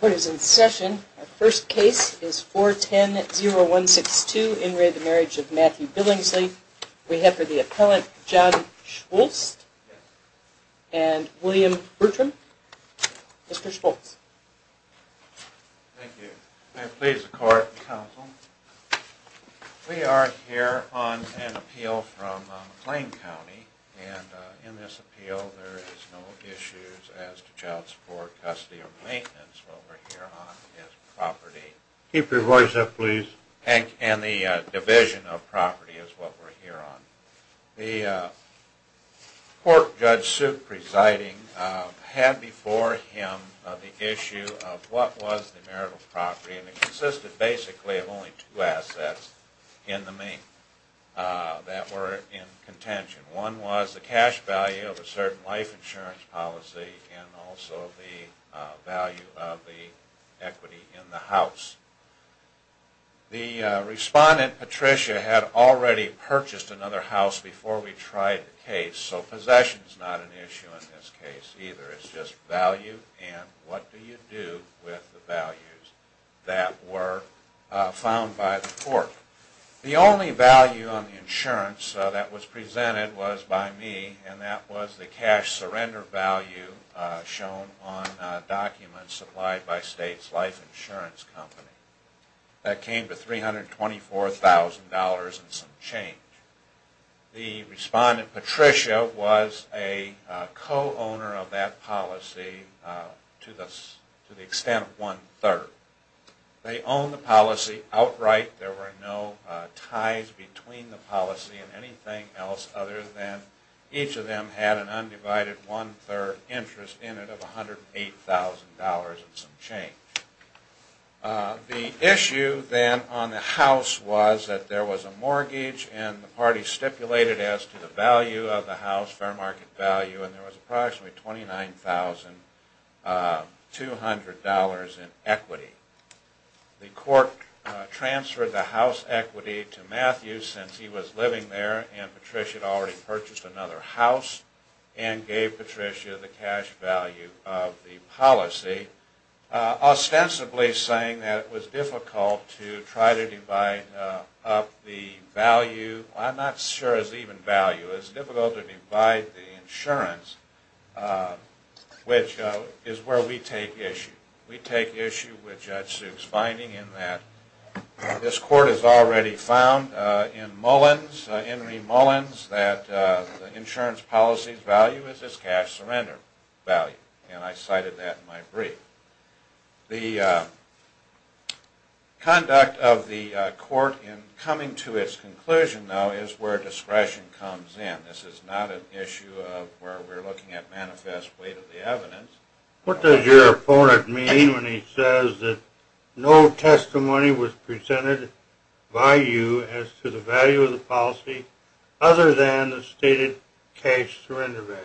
Court is in session. Our first case is 410162, in re. the Marriage of Matthew Billingsley. We have for the appellant John Schultz and William Bertram. Mr. Schultz. Thank you. May it please the court and counsel, we are here on an appeal from McLean County and in this appeal there is no issues as to child support, custody, or maintenance. What we're here on is property. Keep your voice up, please. And the division of property is what we're here on. The court Judge Suk presiding had before him the issue of what was the marital property and it consisted basically of only two assets in the main that were in contention. One was the cash value of a certain life insurance policy and also the value of the equity in the house. The respondent Patricia had already purchased another house before we tried the case, so possession is not an issue in this case either. It's just value and what do you do with the values that were found by the court. The only value on the insurance that was presented was by me and that was the cash surrender value shown on documents supplied by States Life Insurance Company. That came to $324,000 and some change. The respondent Patricia was a co-owner of that policy to the extent of one-third. They owned the policy outright. There were no ties between the policy and anything else other than each of them had an undivided one-third interest in it of $108,000 and some change. The issue then on the house was that there was a mortgage and the party stipulated as to the value of the house, fair market value, and there was approximately $29,200 in equity. The court transferred the house equity to Matthew since he was living there and Patricia had already purchased another house and gave Patricia the cash value of the policy, ostensibly saying that it was difficult to try to divide up the value. I'm not sure it's even value. It's difficult to divide the insurance, which is where we take issue. We take issue with Judge Suk's finding in that this court has already found in Mullins, Henry Mullins, that the insurance policy's value is its cash surrender value and I cited that in my brief. The conduct of the court in coming to its conclusion, though, is where discretion comes in. This is not an issue of where we're looking at manifest weight of the evidence. What does your opponent mean when he says that no testimony was presented by you as to the value of the policy other than the stated cash surrender value?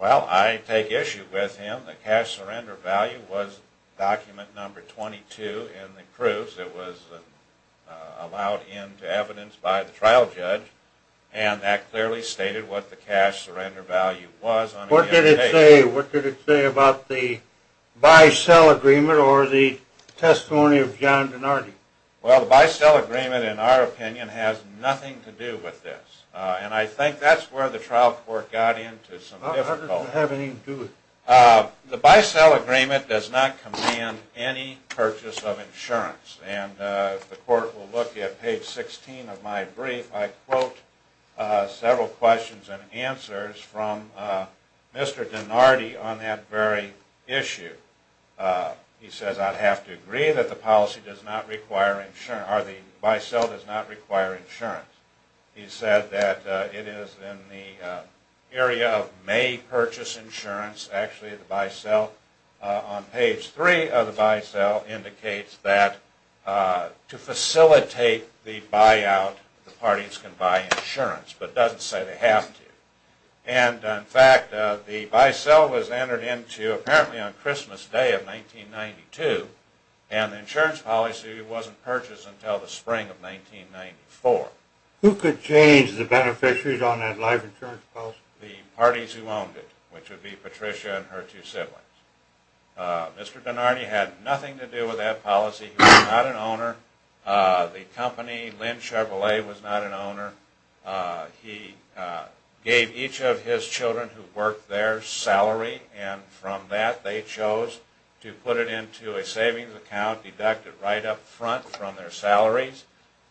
Well, I take issue with him. The cash surrender value was document number 22 in the proofs. It was allowed into evidence by the trial judge and that clearly stated what the cash surrender value was under the indication. What did it say? What did it say about the buy-sell agreement or the testimony of John Donardi? Well, the buy-sell agreement, in our opinion, has nothing to do with this and I think that's where the trial court got into some difficulty. The buy-sell agreement does not command any purchase of insurance and the court will look at page 16 of my brief. I quote several questions and answers from Mr. Donardi on that very issue. He says, I'd have to agree that the buy-sell does not require insurance. He said that it is in the area of may purchase insurance. Actually, the buy-sell on page 3 of the buy-sell indicates that to facilitate the buy-out, the parties can buy insurance but doesn't say they have to. And, in fact, the buy-sell was entered into apparently on Christmas Day of 1992 and the insurance policy wasn't purchased until the spring of 1994. Who could change the beneficiaries on that life insurance policy? The parties who owned it, which would be Patricia and her two siblings. Mr. Donardi had nothing to do with that policy. He was not an owner. The company, Lynn Chevrolet, was not an owner. He gave each of his children who worked there salary and from that they chose to put it into a savings account, deduct it right up front from their salaries,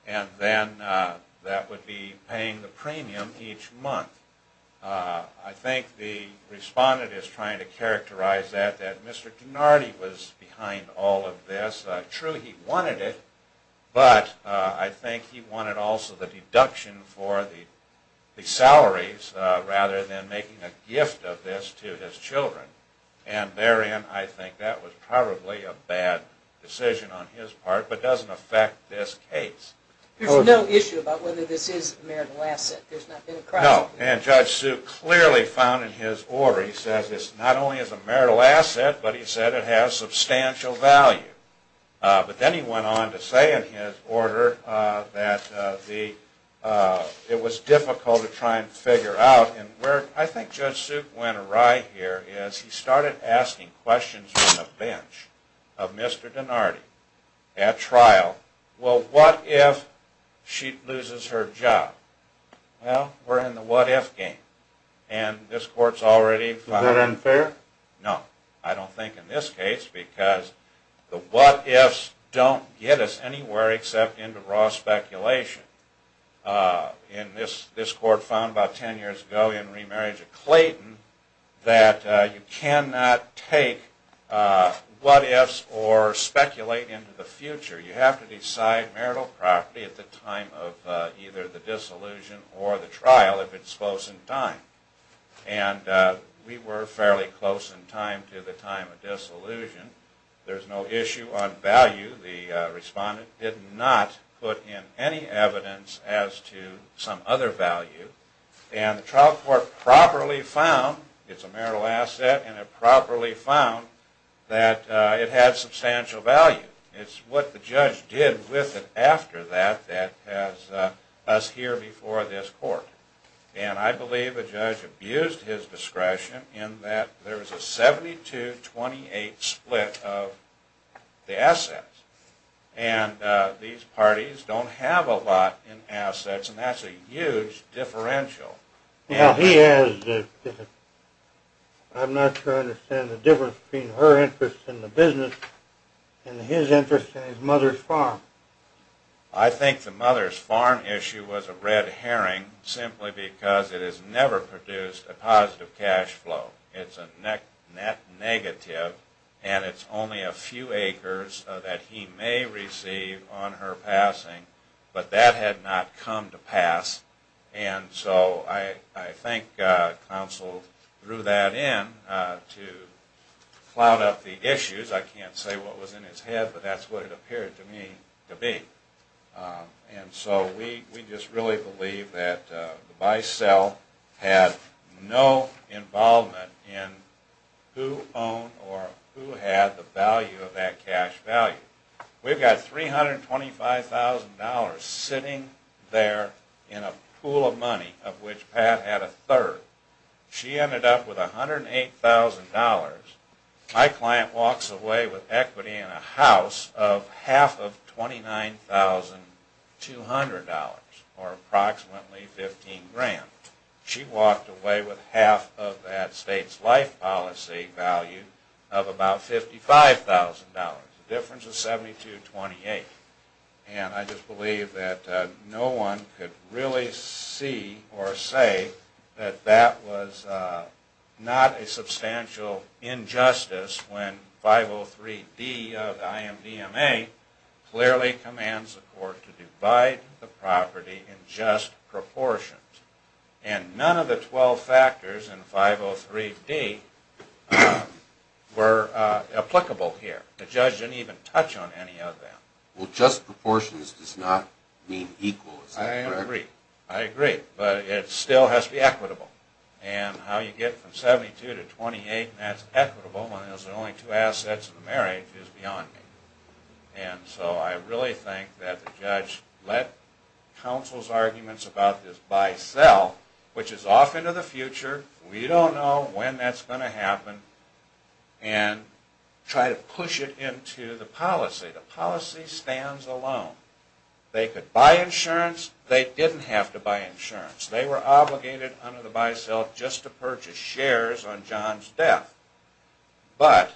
and then that would be paying the premium each month. I think the respondent is trying to characterize that, that Mr. Donardi was behind all of this. True, he wanted it, but I think he wanted also the deduction for the salaries rather than making a gift of this to his children. And therein I think that was probably a bad decision on his part, but doesn't affect this case. There's no issue about whether this is a marital asset. No, and Judge Sue clearly found in his order, he says, this not only is a marital asset, but he said it has substantial value. But then he went on to say in his order that it was difficult to try and figure out, and where I think Judge Sue went awry here is he started asking questions from the bench of Mr. Donardi at trial. Well, what if she loses her job? Well, we're in the what if game, and this court's already found... Is that unfair? No, I don't think in this case because the what ifs don't get us anywhere except into raw speculation. And this court found about ten years ago in remarriage of Clayton that you cannot take what ifs or speculate into the future. You have to decide marital property at the time of either the disillusion or the trial if it's close in time. And we were fairly close in time to the time of disillusion. There's no issue on value. The respondent did not put in any evidence as to some other value. And the trial court properly found it's a marital asset, and it properly found that it had substantial value. It's what the judge did with it after that that has us here before this court. And I believe the judge abused his discretion in that There's a 72-28 split of the assets, and these parties don't have a lot in assets, and that's a huge differential. I think the mother's farm issue was a red herring simply because it has never produced a positive cash flow. It's a net negative, and it's only a few acres that he may receive on her passing, but that had not come to pass. And so I think counsel threw that in to cloud up the issues. I can't say what was in his head, but that's what it appeared to me to be. And so we just really believe that the buy-sell had no involvement in who owned or who had the value of that cash value. We've got $325,000 sitting there in a pool of money of which Pat had a third. She ended up with $108,000. My client walks away with equity in a house of half of $29,200, or approximately 15 grand. She walked away with half of that state's life policy value of about $55,000. The difference is 72-28. And I just believe that no one could really see or say that that was not a substantial injustice when 503D of the IMDMA clearly commands the court to divide the property in just proportions. And none of the 12 factors in 503D were applicable here. The judge didn't even touch on any of them. Well, just proportions does not mean equal. Is that correct? I agree. I agree. But it still has to be equitable. And how you get from 72 to 28 and that's equitable when there's only two assets in the marriage is beyond me. And so I really think that the judge let counsel's arguments about this buy-sell, which is off into the future. We don't know when that's going to happen, and try to push it into the policy. The policy stands alone. They could buy insurance. They didn't have to buy insurance. They were obligated under the buy-sell just to purchase shares on John's death. But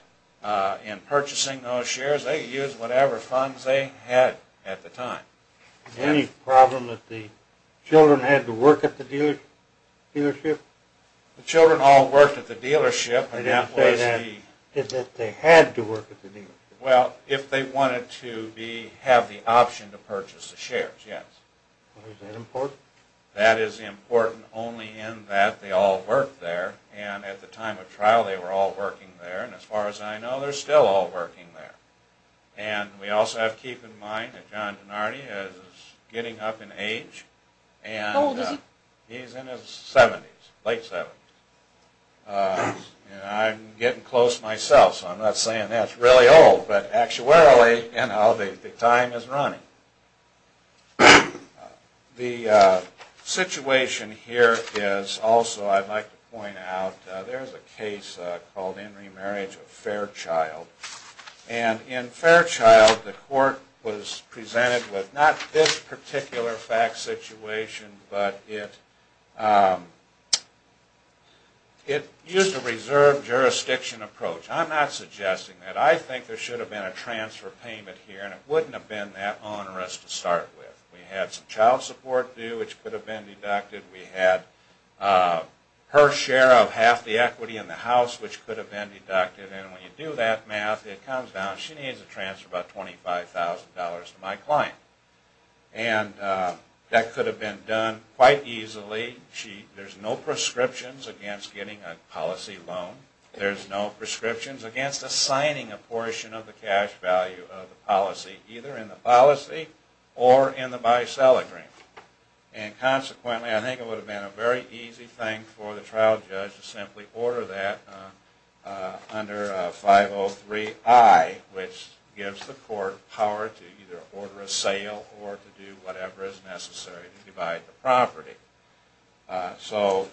in purchasing those shares, they used whatever funds they had at the time. Any problem that the children had to work at the dealership? The children all worked at the dealership. They didn't say that, that they had to work at the dealership. Well, if they wanted to have the option to purchase the shares, yes. Is that important? That is important only in that they all worked there. And at the time of trial, they were all working there. And as far as I know, they're still all working there. And we also have to keep in mind that John Dinardi is getting up in age. How old is he? He's in his 70s, late 70s. And I'm getting close myself, so I'm not saying that's really old. But actuarially, you know, the time is running. The situation here is also, I'd like to point out, there's a case called In Remarriage of Fairchild. And in Fairchild, the court was presented with not this particular fact situation, but it used a reserve jurisdiction approach. I'm not suggesting that. I think there should have been a transfer payment here, and it wouldn't have been that onerous to start with. We had some child support due, which could have been deducted. We had her share of half the equity in the house, which could have been deducted. And when you do that math, it comes down, she needs to transfer about $25,000 to my client. And that could have been done quite easily. There's no prescriptions against getting a policy loan. There's no prescriptions against assigning a portion of the cash value of the policy, either in the policy or in the buy-sell agreement. And consequently, I think it would have been a very easy thing for the trial judge to simply order that under 503I, which gives the court power to either order a sale or to do whatever is necessary to divide the property. So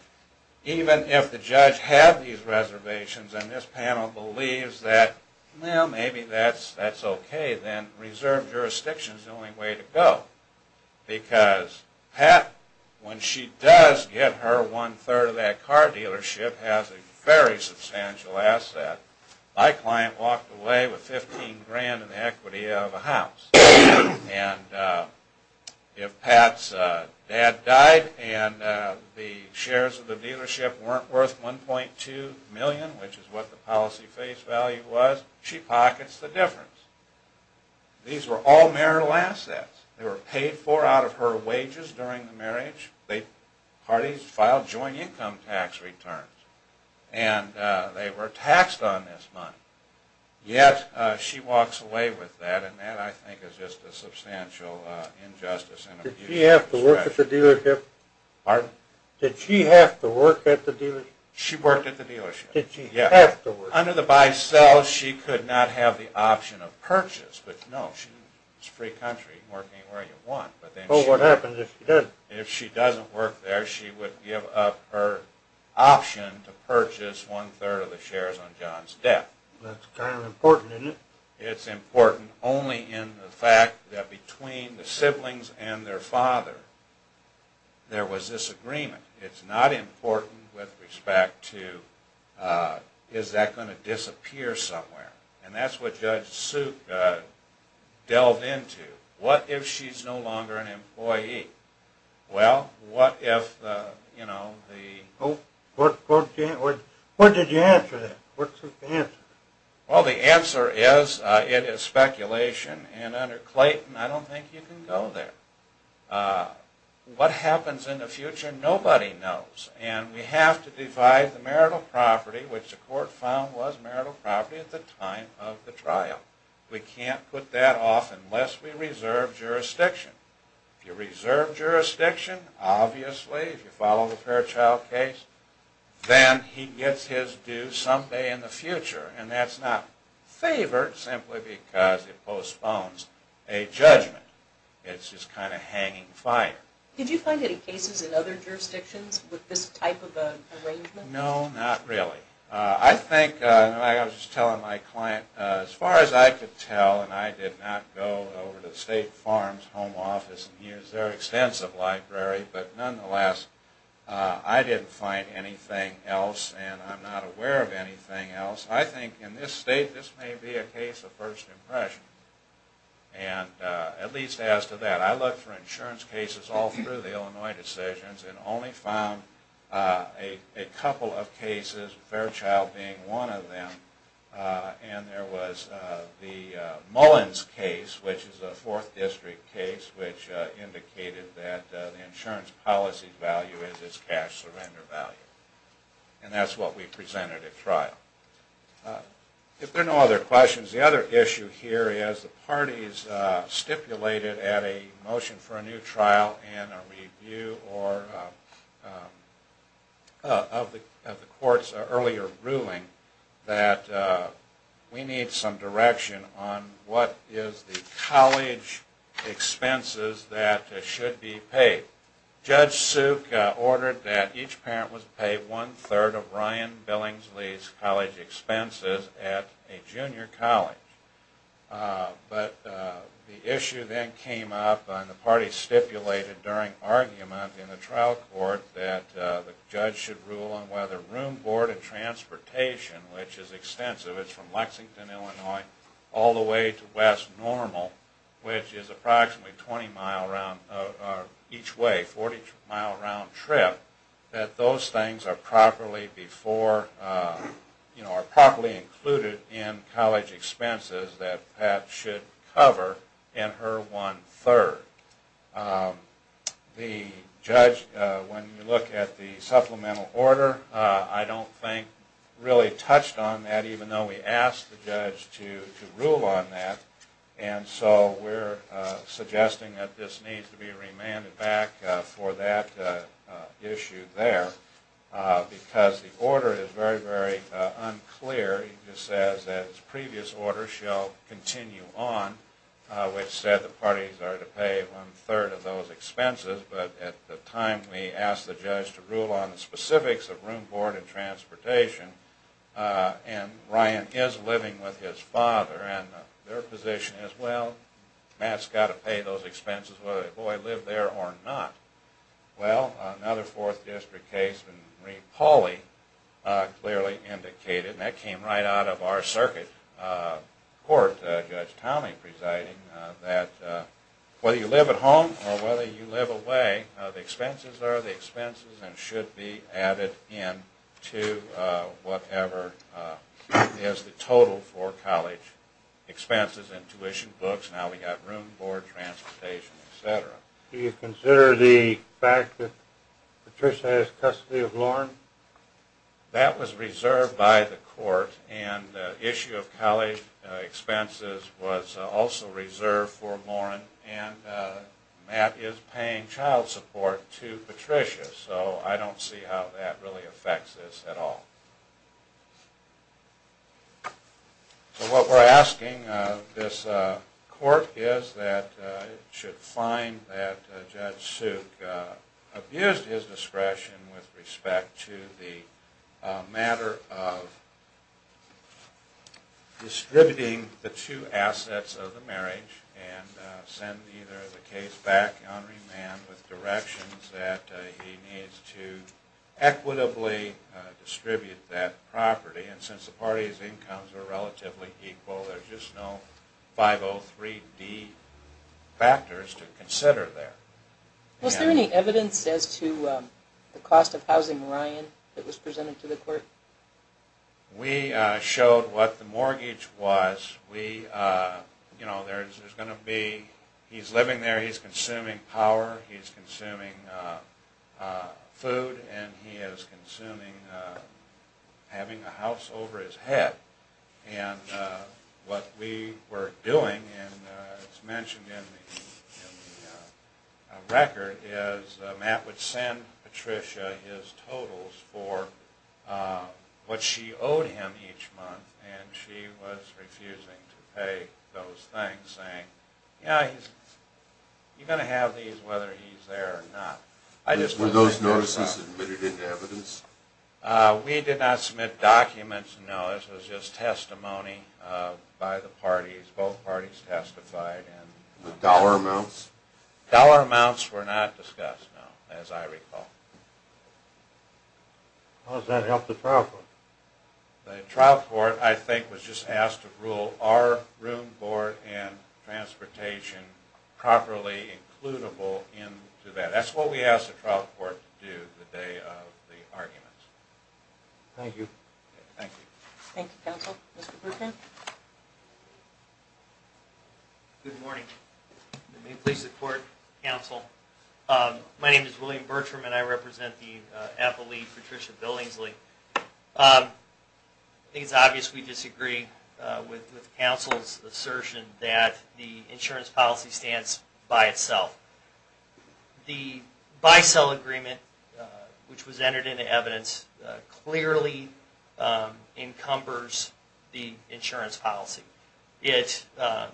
even if the judge had these reservations, and this panel believes that, well, maybe that's okay, then reserve jurisdiction is the only way to go. Because Pat, when she does get her one-third of that car dealership, has a very substantial asset. My client walked away with $15,000 in equity out of the house. And if Pat's dad died, and the shares of the dealership weren't worth $1.2 million, which is what the policy face value was, she pockets the difference. These were all marital assets. They were paid for out of her wages during the marriage. The parties filed joint income tax returns. And they were taxed on this money. Yet she walks away with that, and that, I think, is just a substantial injustice and abuse of discretion. Did she have to work at the dealership? Pardon? Did she have to work at the dealership? She worked at the dealership. Did she have to work at the dealership? Under the buy-sell, she could not have the option of purchase. But no, it's a free country. Work anywhere you want. But what happens if she doesn't? If she doesn't work there, she would give up her option to purchase one-third of the shares on John's death. That's kind of important, isn't it? It's important only in the fact that between the siblings and their father, there was this agreement. It's not important with respect to, is that going to disappear somewhere? And that's what Judge Suk delved into. What if she's no longer an employee? Well, what if, you know, the... What did you answer then? What's the answer? Well, the answer is, it is speculation. And under Clayton, I don't think you can go there. What happens in the future, nobody knows. And we have to divide the marital property, which the court found was marital property at the time of the trial. We can't put that off unless we reserve jurisdiction. If you reserve jurisdiction, obviously, if you follow the Fairchild case, then he gets his due someday in the future. And that's not favored simply because it postpones a judgment. It's just kind of hanging fire. Did you find any cases in other jurisdictions with this type of arrangement? No, not really. I think, and I was just telling my client, as far as I could tell, and I did not go over to State Farm's home office and use their extensive library, but nonetheless, I didn't find anything else, and I'm not aware of anything else. I think in this state, this may be a case of first impression. And at least as to that, I looked for insurance cases all through the Illinois decisions and only found a couple of cases, Fairchild being one of them. And there was the Mullins case, which is a fourth district case, which indicated that the insurance policy value is its cash surrender value. And that's what we presented at trial. If there are no other questions, the other issue here is the parties stipulated at a motion for a new trial and a review of the court's earlier ruling that we need some direction on what is the college expenses that should be paid. Judge Suk ordered that each parent was paid one-third of Ryan Billingsley's college expenses at a junior college. But the issue then came up, and the parties stipulated during argument in the trial court that the judge should rule on whether room, board, and transportation, which is extensive, it's from Lexington, Illinois, all the way to West Normal, which is approximately 20 miles each way, a 40-mile round trip, that those things are properly included in college expenses that Pat should cover in her one-third. The judge, when you look at the supplemental order, I don't think really touched on that, even though we asked the judge to rule on that. And so we're suggesting that this needs to be remanded back for that issue there, because the order is very, very unclear. It just says that its previous order shall continue on, which said the parties are to pay one-third of those expenses, but at the time we asked the judge to rule on the specifics of room, board, and transportation, and Ryan is living with his father, and their position is, well, Matt's got to pay those expenses, whether the boy lived there or not. Well, another Fourth District case, Marie Pauley clearly indicated, and that came right out of our circuit court, Judge Townley presiding, that whether you live at home or whether you live away, the expenses are the expenses and should be added in to whatever is the total for college expenses and tuition, books. Now we've got room, board, transportation, et cetera. Do you consider the fact that Patricia has custody of Lauren? That was reserved by the court, and the issue of college expenses was also reserved for Lauren, and Matt is paying child support to Patricia, so I don't see how that really affects this at all. So what we're asking this court is that it should find that Judge Suk abused his discretion with respect to the matter of distributing the two assets of the marriage and send either the case back on remand with directions that he needs to equitably distribute that property, and since the parties' incomes are relatively equal, there's just no 503D factors to consider there. Was there any evidence as to the cost of housing Ryan that was presented to the court? We showed what the mortgage was. He's living there, he's consuming power, he's consuming food, and he is having a house over his head, and what we were doing, and it's mentioned in the record, is Matt would send Patricia his totals for what she owed him each month, and she was refusing to pay those things, saying, yeah, you're going to have these whether he's there or not. Were those notices admitted in evidence? We did not submit documents, no. This was just testimony by the parties. Both parties testified. Dollar amounts? Dollar amounts were not discussed, no, as I recall. How does that help the trial court? The trial court, I think, was just asked to rule our room, board, and transportation properly includable into that. That's what we asked the trial court to do the day of the arguments. Thank you. Thank you. Thank you, counsel. Mr. Bertram? Good morning. May it please the court, counsel. My name is William Bertram, and I represent the Apple League, Patricia Billingsley. I think it's obvious we disagree with counsel's assertion that the insurance policy stands by itself. The BICEL agreement, which was entered into evidence, clearly encumbers the insurance policy. I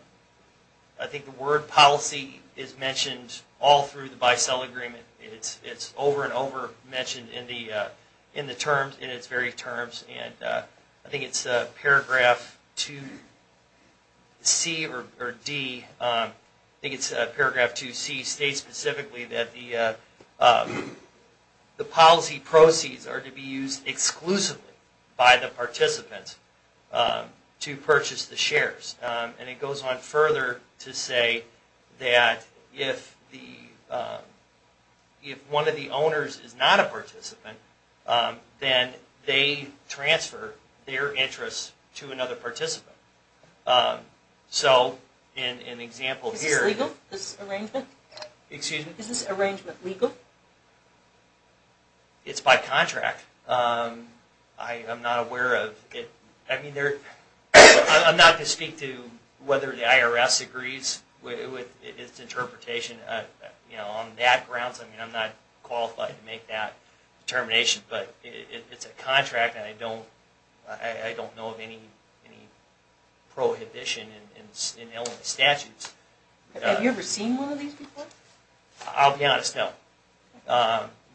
think the word policy is mentioned all through the BICEL agreement. It's over and over mentioned in the terms, in its very terms. I think it's paragraph 2C or D. I think it's paragraph 2C states specifically that the policy proceeds are to be used exclusively by the participants to purchase the shares. And it goes on further to say that if one of the owners is not a participant, then they transfer their interests to another participant. So, an example here... Is this legal, this arrangement? Excuse me? Is this arrangement legal? It's by contract. I'm not aware of it. I'm not to speak to whether the IRS agrees with its interpretation. On that grounds, I'm not qualified to make that determination. But it's a contract, and I don't know of any prohibition in Illinois statutes. Have you ever seen one of these before? I'll be honest, no.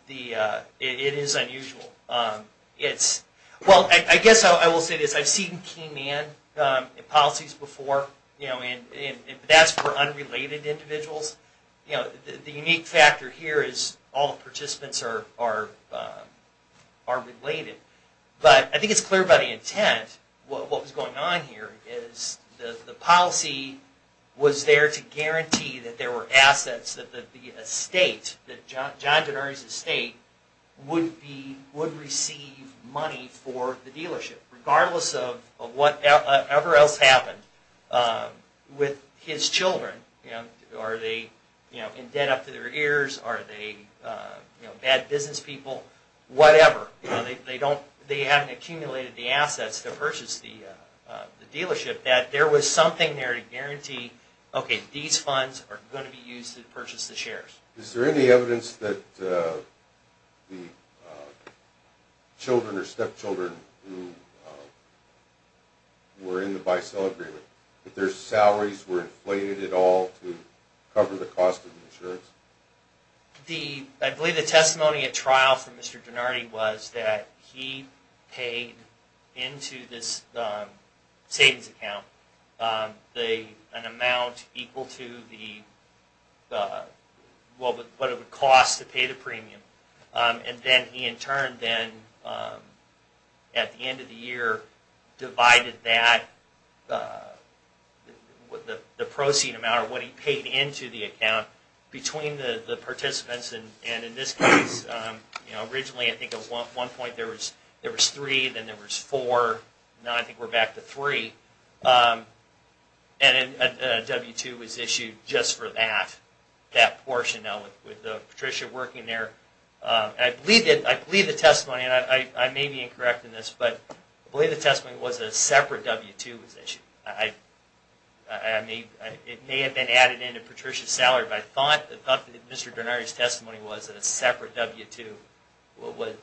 It is unusual. Well, I guess I will say this. I've seen key man policies before, and that's for unrelated individuals. The unique factor here is all the participants are related. But I think it's clear by the intent, what was going on here, is the policy was there to guarantee that there were assets, that the estate, that John Denardy's estate, would receive money for the dealership, regardless of whatever else happened with his children. Are they in debt up to their ears? Are they bad business people? Whatever. They haven't accumulated the assets to purchase the dealership. But that there was something there to guarantee, okay, these funds are going to be used to purchase the shares. Is there any evidence that the children or stepchildren who were in the buy-sell agreement, that their salaries were inflated at all to cover the cost of insurance? I believe the testimony at trial for Mr. Denardy was that he paid into this savings account an amount equal to what it would cost to pay the premium. And then he in turn then, at the end of the year, divided that, the proceeding amount, or what he paid into the account, between the participants. And in this case, originally I think at one point there was three, then there was four, now I think we're back to three. And a W-2 was issued just for that portion, with Patricia working there. I believe the testimony, and I may be incorrect in this, but I believe the testimony was a separate W-2 was issued. It may have been added into Patricia's salary, but I thought that Mr. Denardy's testimony was that a separate W-2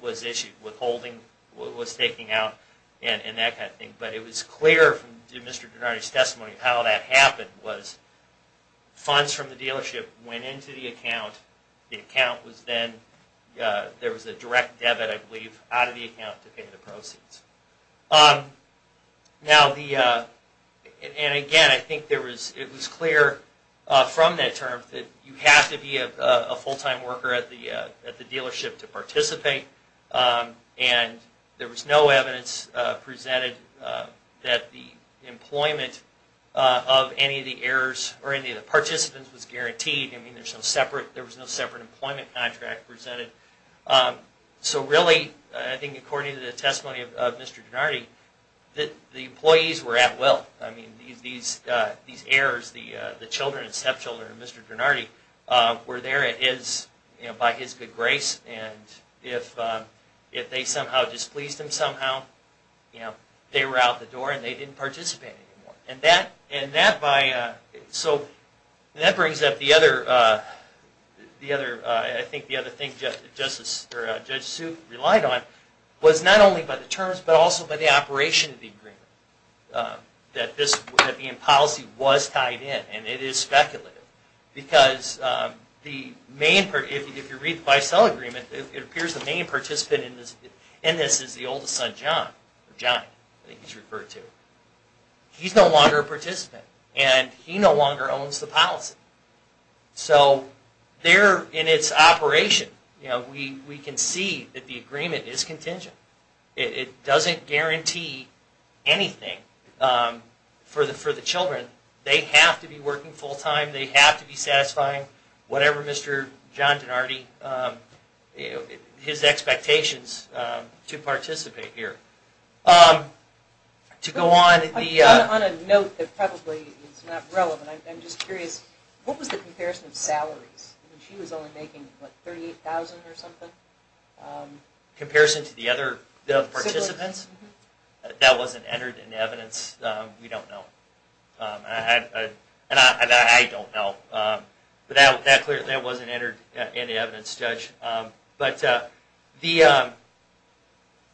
was issued, withholding, was taking out, and that kind of thing. But it was clear from Mr. Denardy's testimony how that happened, was funds from the dealership went into the account, the account was then, there was a direct debit I believe, out of the account to pay the proceeds. Now the, and again I think it was clear from that term that you have to be a full-time worker at the dealership to participate, and there was no evidence presented that the employment of any of the heirs, or any of the participants, was guaranteed. I mean there was no separate employment contract presented. So really, I think according to the testimony of Mr. Denardy, the employees were at will. I mean these heirs, the children and stepchildren of Mr. Denardy, were there at his, by his good grace, and if they somehow displeased him somehow, they were out the door and they didn't participate anymore. And that, and that by, so that brings up the other, the other, I think the other thing Justice, or Judge Suit relied on, was not only by the terms, but also by the operation of the agreement. That this, that the policy was tied in, and it is speculative. Because the main, if you read the Bicell Agreement, it appears the main participant in this, in this is the oldest son, John, or John, I think he's referred to. He's no longer a participant, and he no longer owns the policy. So, there in its operation, you know, we, we can see that the agreement is contingent. It doesn't guarantee anything for the, for the children. They have to be working full time, they have to be satisfying whatever Mr. John Denardy, his expectations to participate here. To go on, the... On a note that probably is not relevant, I'm just curious, what was the comparison of salaries? She was only making, what, $38,000 or something? Comparison to the other participants? That wasn't entered in the evidence, we don't know. And I, and I don't know. But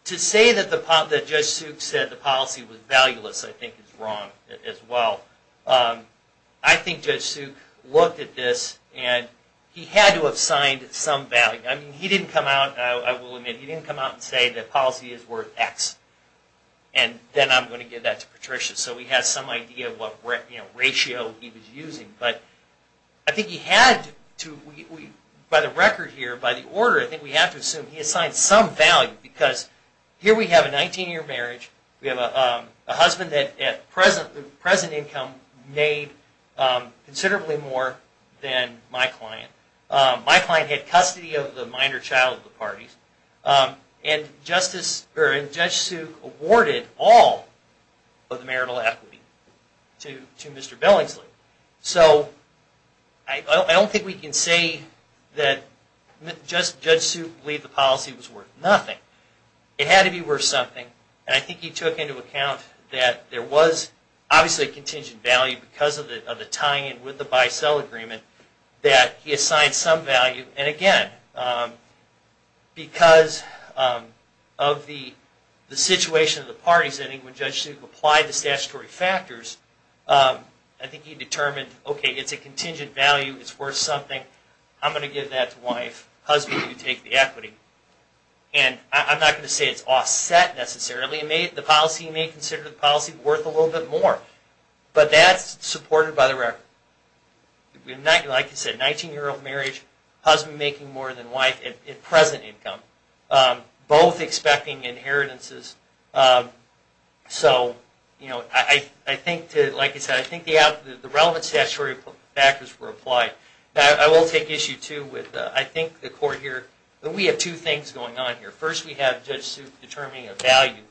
to say that the, that Judge Suk said the policy was valueless, I think is wrong as well. I think Judge Suk looked at this, and he had to have signed some value. I mean, he didn't come out, I will admit, he didn't come out and say the policy is worth X. And then I'm going to give that to Patricia, so we have some idea of what, you know, ratio he was using. But I think he had to, by the record here, by the order, I think we have to assume he assigned some value. Because here we have a 19 year marriage, we have a husband that at present income made considerably more than my client. My client had custody of the minor child of the parties. And Justice, or Judge Suk awarded all of the marital equity to Mr. Billingsley. So, I don't think we can say that Judge Suk believed the policy was worth nothing. It had to be worth something, and I think he took into account that there was obviously a contingent value because of the tying in with the bi-cell agreement, that he assigned some value. And again, because of the situation of the parties, I think when Judge Suk applied the statutory factors, I think he determined, okay, it's a contingent value, it's worth something. I'm going to give that to wife. Husband, you take the equity. And I'm not going to say it's offset necessarily. The policy, you may consider the policy worth a little bit more. But that's supported by the record. Like I said, 19 year old marriage, husband making more than wife at present income. Both expecting inheritances. So, like I said, I think the relevant statutory factors were applied. I will take issue too with, I think the court here, we have two things going on here. First, we have Judge Suk determining a value.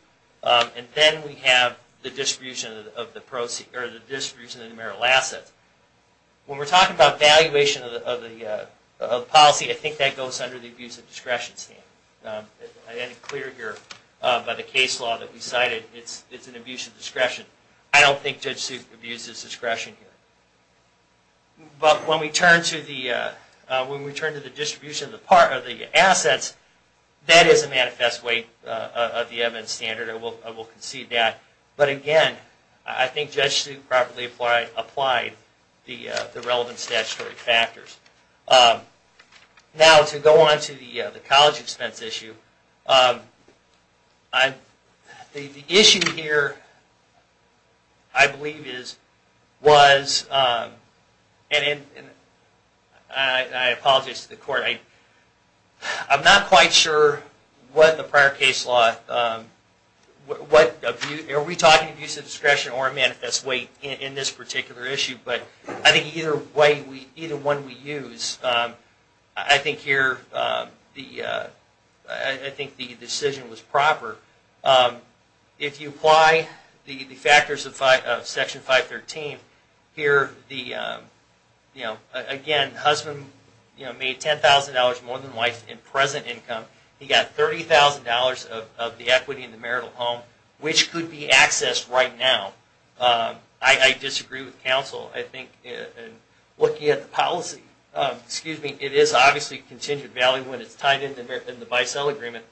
And then we have the distribution of the marital assets. When we're talking about valuation of the policy, I think that goes under the abuse of discretion standard. I had it clear here by the case law that we cited, it's an abuse of discretion. I don't think Judge Suk abuses discretion here. But when we turn to the distribution of the assets, that is a manifest way of the evidence standard. I will concede that. But again, I think Judge Suk properly applied the relevant statutory factors. Now, to go on to the college expense issue. The issue here, I believe is, was, and I apologize to the court. I'm not quite sure what the prior case law, are we talking abuse of discretion or a manifest way in this particular issue? But I think either way, either one we use. I think here, I think the decision was proper. If you apply the factors of Section 513, here, again, husband made $10,000 more than wife in present income. He got $30,000 of the equity in the marital home, which could be accessed right now. I disagree with counsel. I think looking at the policy, it is obviously contingent value when it's tied into the buy-sell agreement.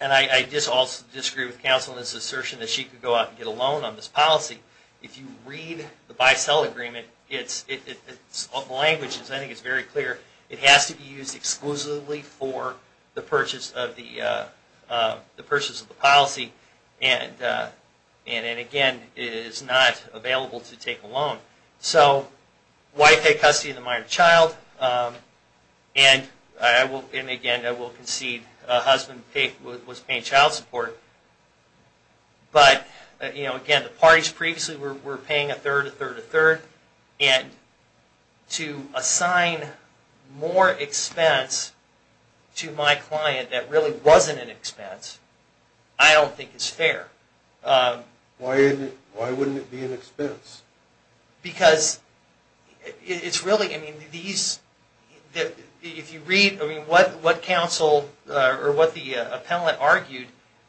And I disagree with counsel in this assertion that she could go out and get a loan on this policy. If you read the buy-sell agreement, the language is very clear. It has to be used exclusively for the purchase of the policy. And, again, it is not available to take a loan. So, wife had custody of the minor child. And, again, I will concede husband was paying child support. But, again, the parties previously were paying a third, a third, a third. And to assign more expense to my client that really wasn't an expense, I don't think is fair. Why wouldn't it be an expense? Because it's really, I mean, these, if you read, I mean, what counsel, or what the appellate argued,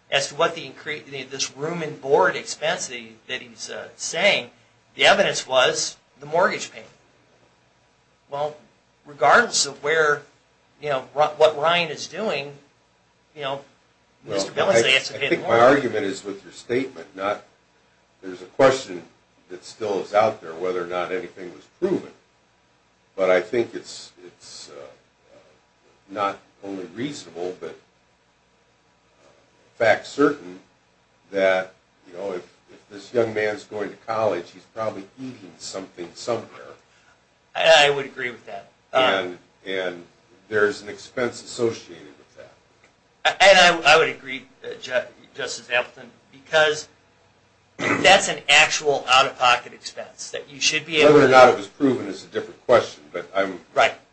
as to what the, this room and board expense that he's saying, the evidence was the mortgage payment. Well, regardless of where, you know, what Ryan is doing, you know, Mr. Billingsley has to pay the mortgage. I think my argument is with your statement, not, there's a question that still is out there whether or not anything was proven. But I think it's not only reasonable, but fact certain that, you know, if this young man is going to college, he's probably eating something somewhere. I would agree with that. And there's an expense associated with that. And I would agree, Justice Ampleton, because that's an actual out-of-pocket expense. Whether or not it was proven is a different question, but I'm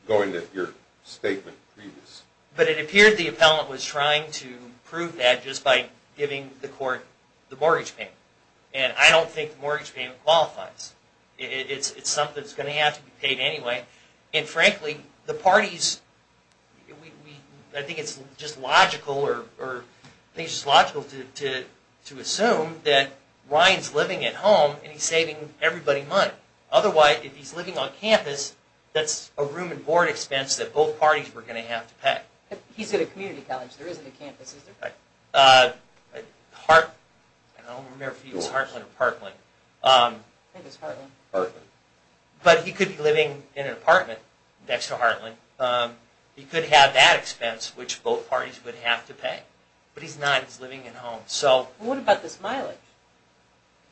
going to your statement previous. But it appeared the appellant was trying to prove that just by giving the court the mortgage payment. And I don't think the mortgage payment qualifies. It's something that's going to have to be paid anyway. And frankly, the parties, I think it's just logical to assume that Ryan's living at home, and he's saving everybody money. Otherwise, if he's living on campus, that's a room and board expense that both parties were going to have to pay. He's at a community college. There isn't a campus, is there? I don't remember if he was Hartland or Parkland. I think it's Hartland. But he could be living in an apartment next to Hartland. He could have that expense, which both parties would have to pay. What about this mileage?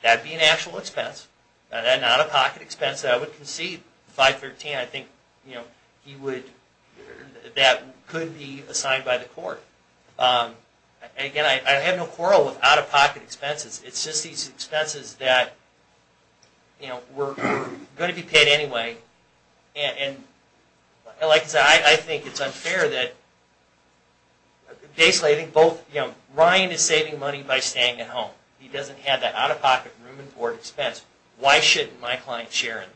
That would be an actual expense, not an out-of-pocket expense that I would concede. 513, I think that could be assigned by the court. Again, I have no quarrel with out-of-pocket expenses. It's just these expenses that were going to be paid anyway. And like I said, I think it's unfair that basically I think both... He doesn't have that out-of-pocket room and board expense. Why shouldn't my client share in that?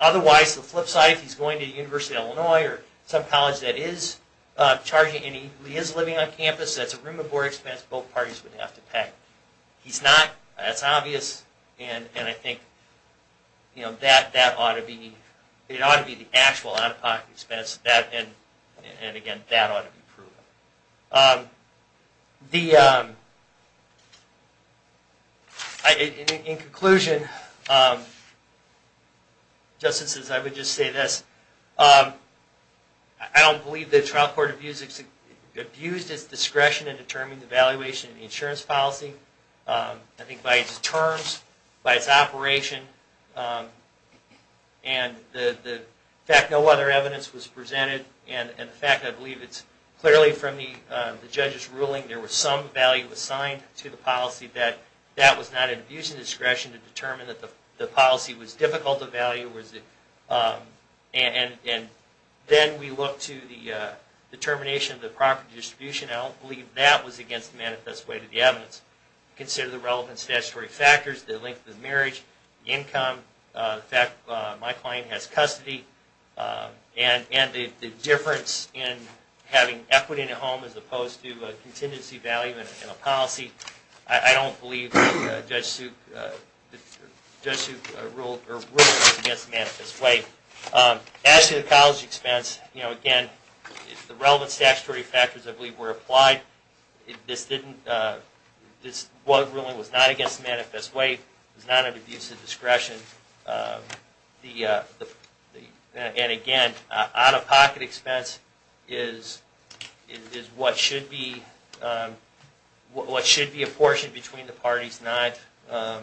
Otherwise, the flip side, if he's going to the University of Illinois or some college that is charging, and he is living on campus, that's a room and board expense both parties would have to pay. He's not. That's obvious. And I think that ought to be the actual out-of-pocket expense. And again, that ought to be proven. In conclusion, justices, I would just say this. I don't believe the trial court abused its discretion in determining the valuation of the insurance policy. I think by its terms, by its operation, and the fact no other evidence was presented, and the fact I believe it's clearly from the judge's ruling there was some value assigned to the policy, that that was not an abuse of discretion to determine that the policy was difficult to value. And then we look to the determination of the property distribution. I don't believe that was against the manifest way to the evidence. Consider the relevant statutory factors, the length of the marriage, the income, the fact my client has custody, and the difference in having equity in a home as opposed to contingency value in a policy. I don't believe Judge Suk ruled against the manifest way. As to the college expense, again, the relevant statutory factors I believe were applied. This was not against the manifest way. It was not an abuse of discretion. And again, out-of-pocket expense is what should be a portion between the parties, not an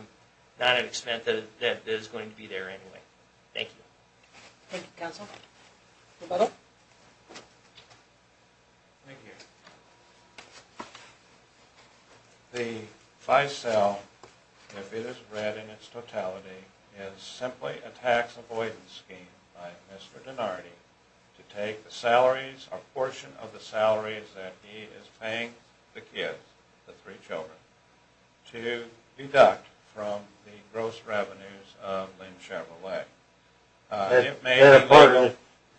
expense that is going to be there anyway. Thank you. Thank you, counsel. Mr. Butler? Thank you. The FICEL, if it is read in its totality, is simply a tax avoidance scheme by Mr. Donardi to take the salaries, a portion of the salaries that he is paying the kids, the three children, to deduct from the gross revenues of Lynn Chevrolet. Is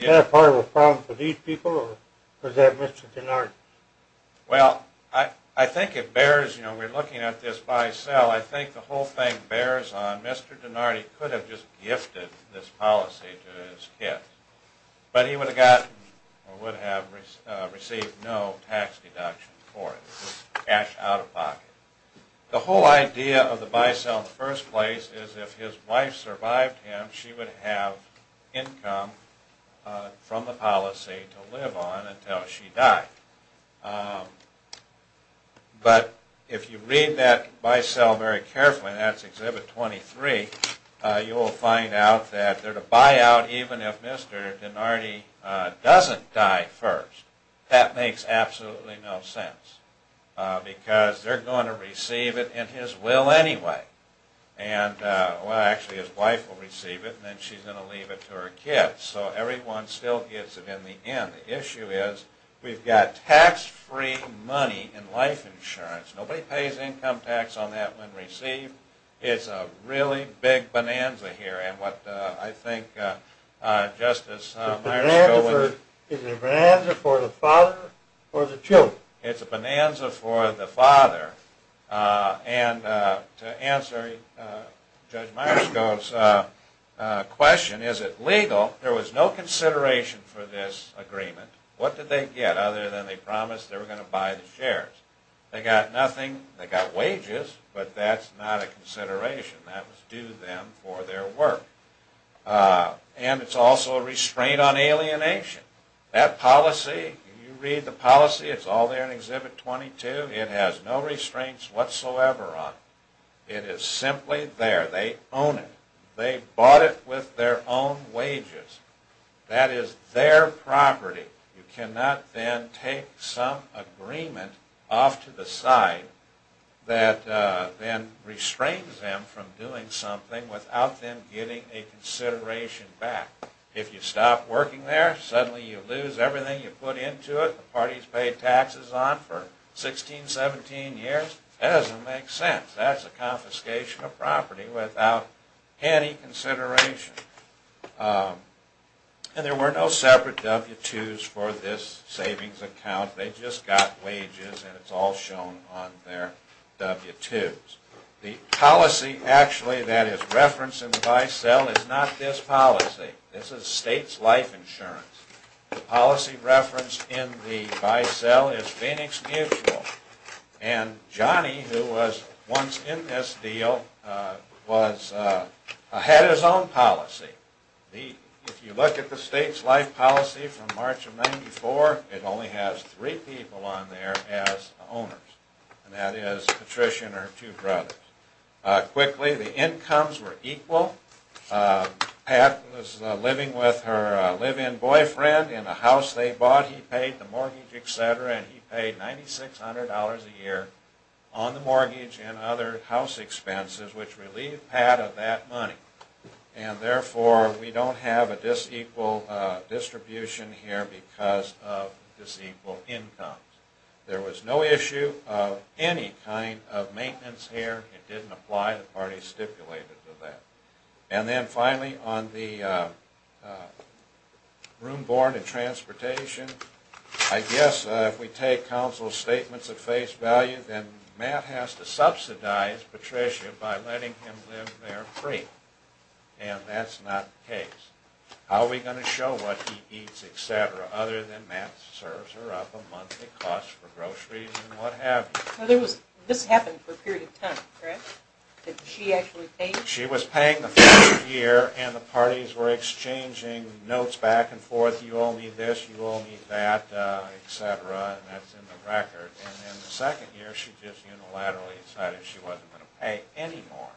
that a part of the problem for these people, or is that Mr. Donardi? Well, I think it bears, you know, we're looking at this FICEL, I think the whole thing bears on Mr. Donardi could have just gifted this policy to his kids, but he would have gotten, or would have received no tax deduction for it. It's cash out-of-pocket. The whole idea of the FICEL in the first place is if his wife survived him, she would have income from the policy to live on until she died. But if you read that FICEL very carefully, and that's Exhibit 23, you will find out that they're to buy out even if Mr. Donardi doesn't die first. That makes absolutely no sense, because they're going to receive it in his will anyway. Well, actually, his wife will receive it, and then she's going to leave it to her kids. So everyone still gets it in the end. The issue is we've got tax-free money in life insurance. Nobody pays income tax on that when received. It's a really big bonanza here. Is it a bonanza for the father or the children? It's a bonanza for the father. And to answer Judge Myerscough's question, is it legal? There was no consideration for this agreement. What did they get other than they promised they were going to buy the shares? They got nothing. They got wages, but that's not a consideration. That was due them for their work. And it's also a restraint on alienation. That policy, if you read the policy, it's all there in Exhibit 22. It has no restraints whatsoever on it. It is simply there. They own it. They bought it with their own wages. That is their property. You cannot then take some agreement off to the side that then restrains them from doing something without them getting a consideration back. If you stop working there, suddenly you lose everything you put into it. The party's paid taxes on it for 16, 17 years. That doesn't make sense. That's a confiscation of property without any consideration. And there were no separate W-2s for this savings account. They just got wages, and it's all shown on their W-2s. The policy actually that is referenced in the buy-sell is not this policy. This is state's life insurance. The policy referenced in the buy-sell is Phoenix Mutual. And Johnny, who was once in this deal, had his own policy. If you look at the state's life policy from March of 94, it only has three people on there as owners, and that is Patricia and her two brothers. Quickly, the incomes were equal. Pat was living with her live-in boyfriend in a house they bought. He paid the mortgage, etc., and he paid $9,600 a year on the mortgage and other house expenses, which relieved Pat of that money. And therefore, we don't have a dis-equal distribution here because of dis-equal incomes. There was no issue of any kind of maintenance here. It didn't apply. The party stipulated to that. And then finally, on the room board and transportation, I guess if we take counsel's statements at face value, then Matt has to subsidize Patricia by letting him live there free, and that's not the case. How are we going to show what he eats, etc., other than Matt serves her up a monthly cost for groceries and what have you? This happened for a period of time, correct? She was paying the first year, and the parties were exchanging notes back and forth, you all need this, you all need that, etc., and that's in the record. And then the second year, she just unilaterally decided she wasn't going to pay any more.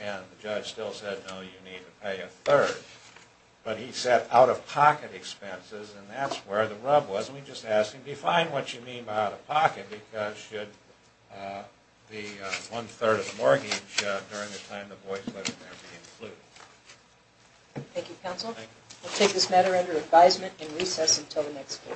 And the judge still said, no, you need to pay a third. But he set out-of-pocket expenses, and that's where the rub was. And we just asked him, define what you mean by out-of-pocket because should the one-third of the mortgage during the time the boy was there be included. Thank you, counsel. We'll take this matter under advisement and recess until the next case.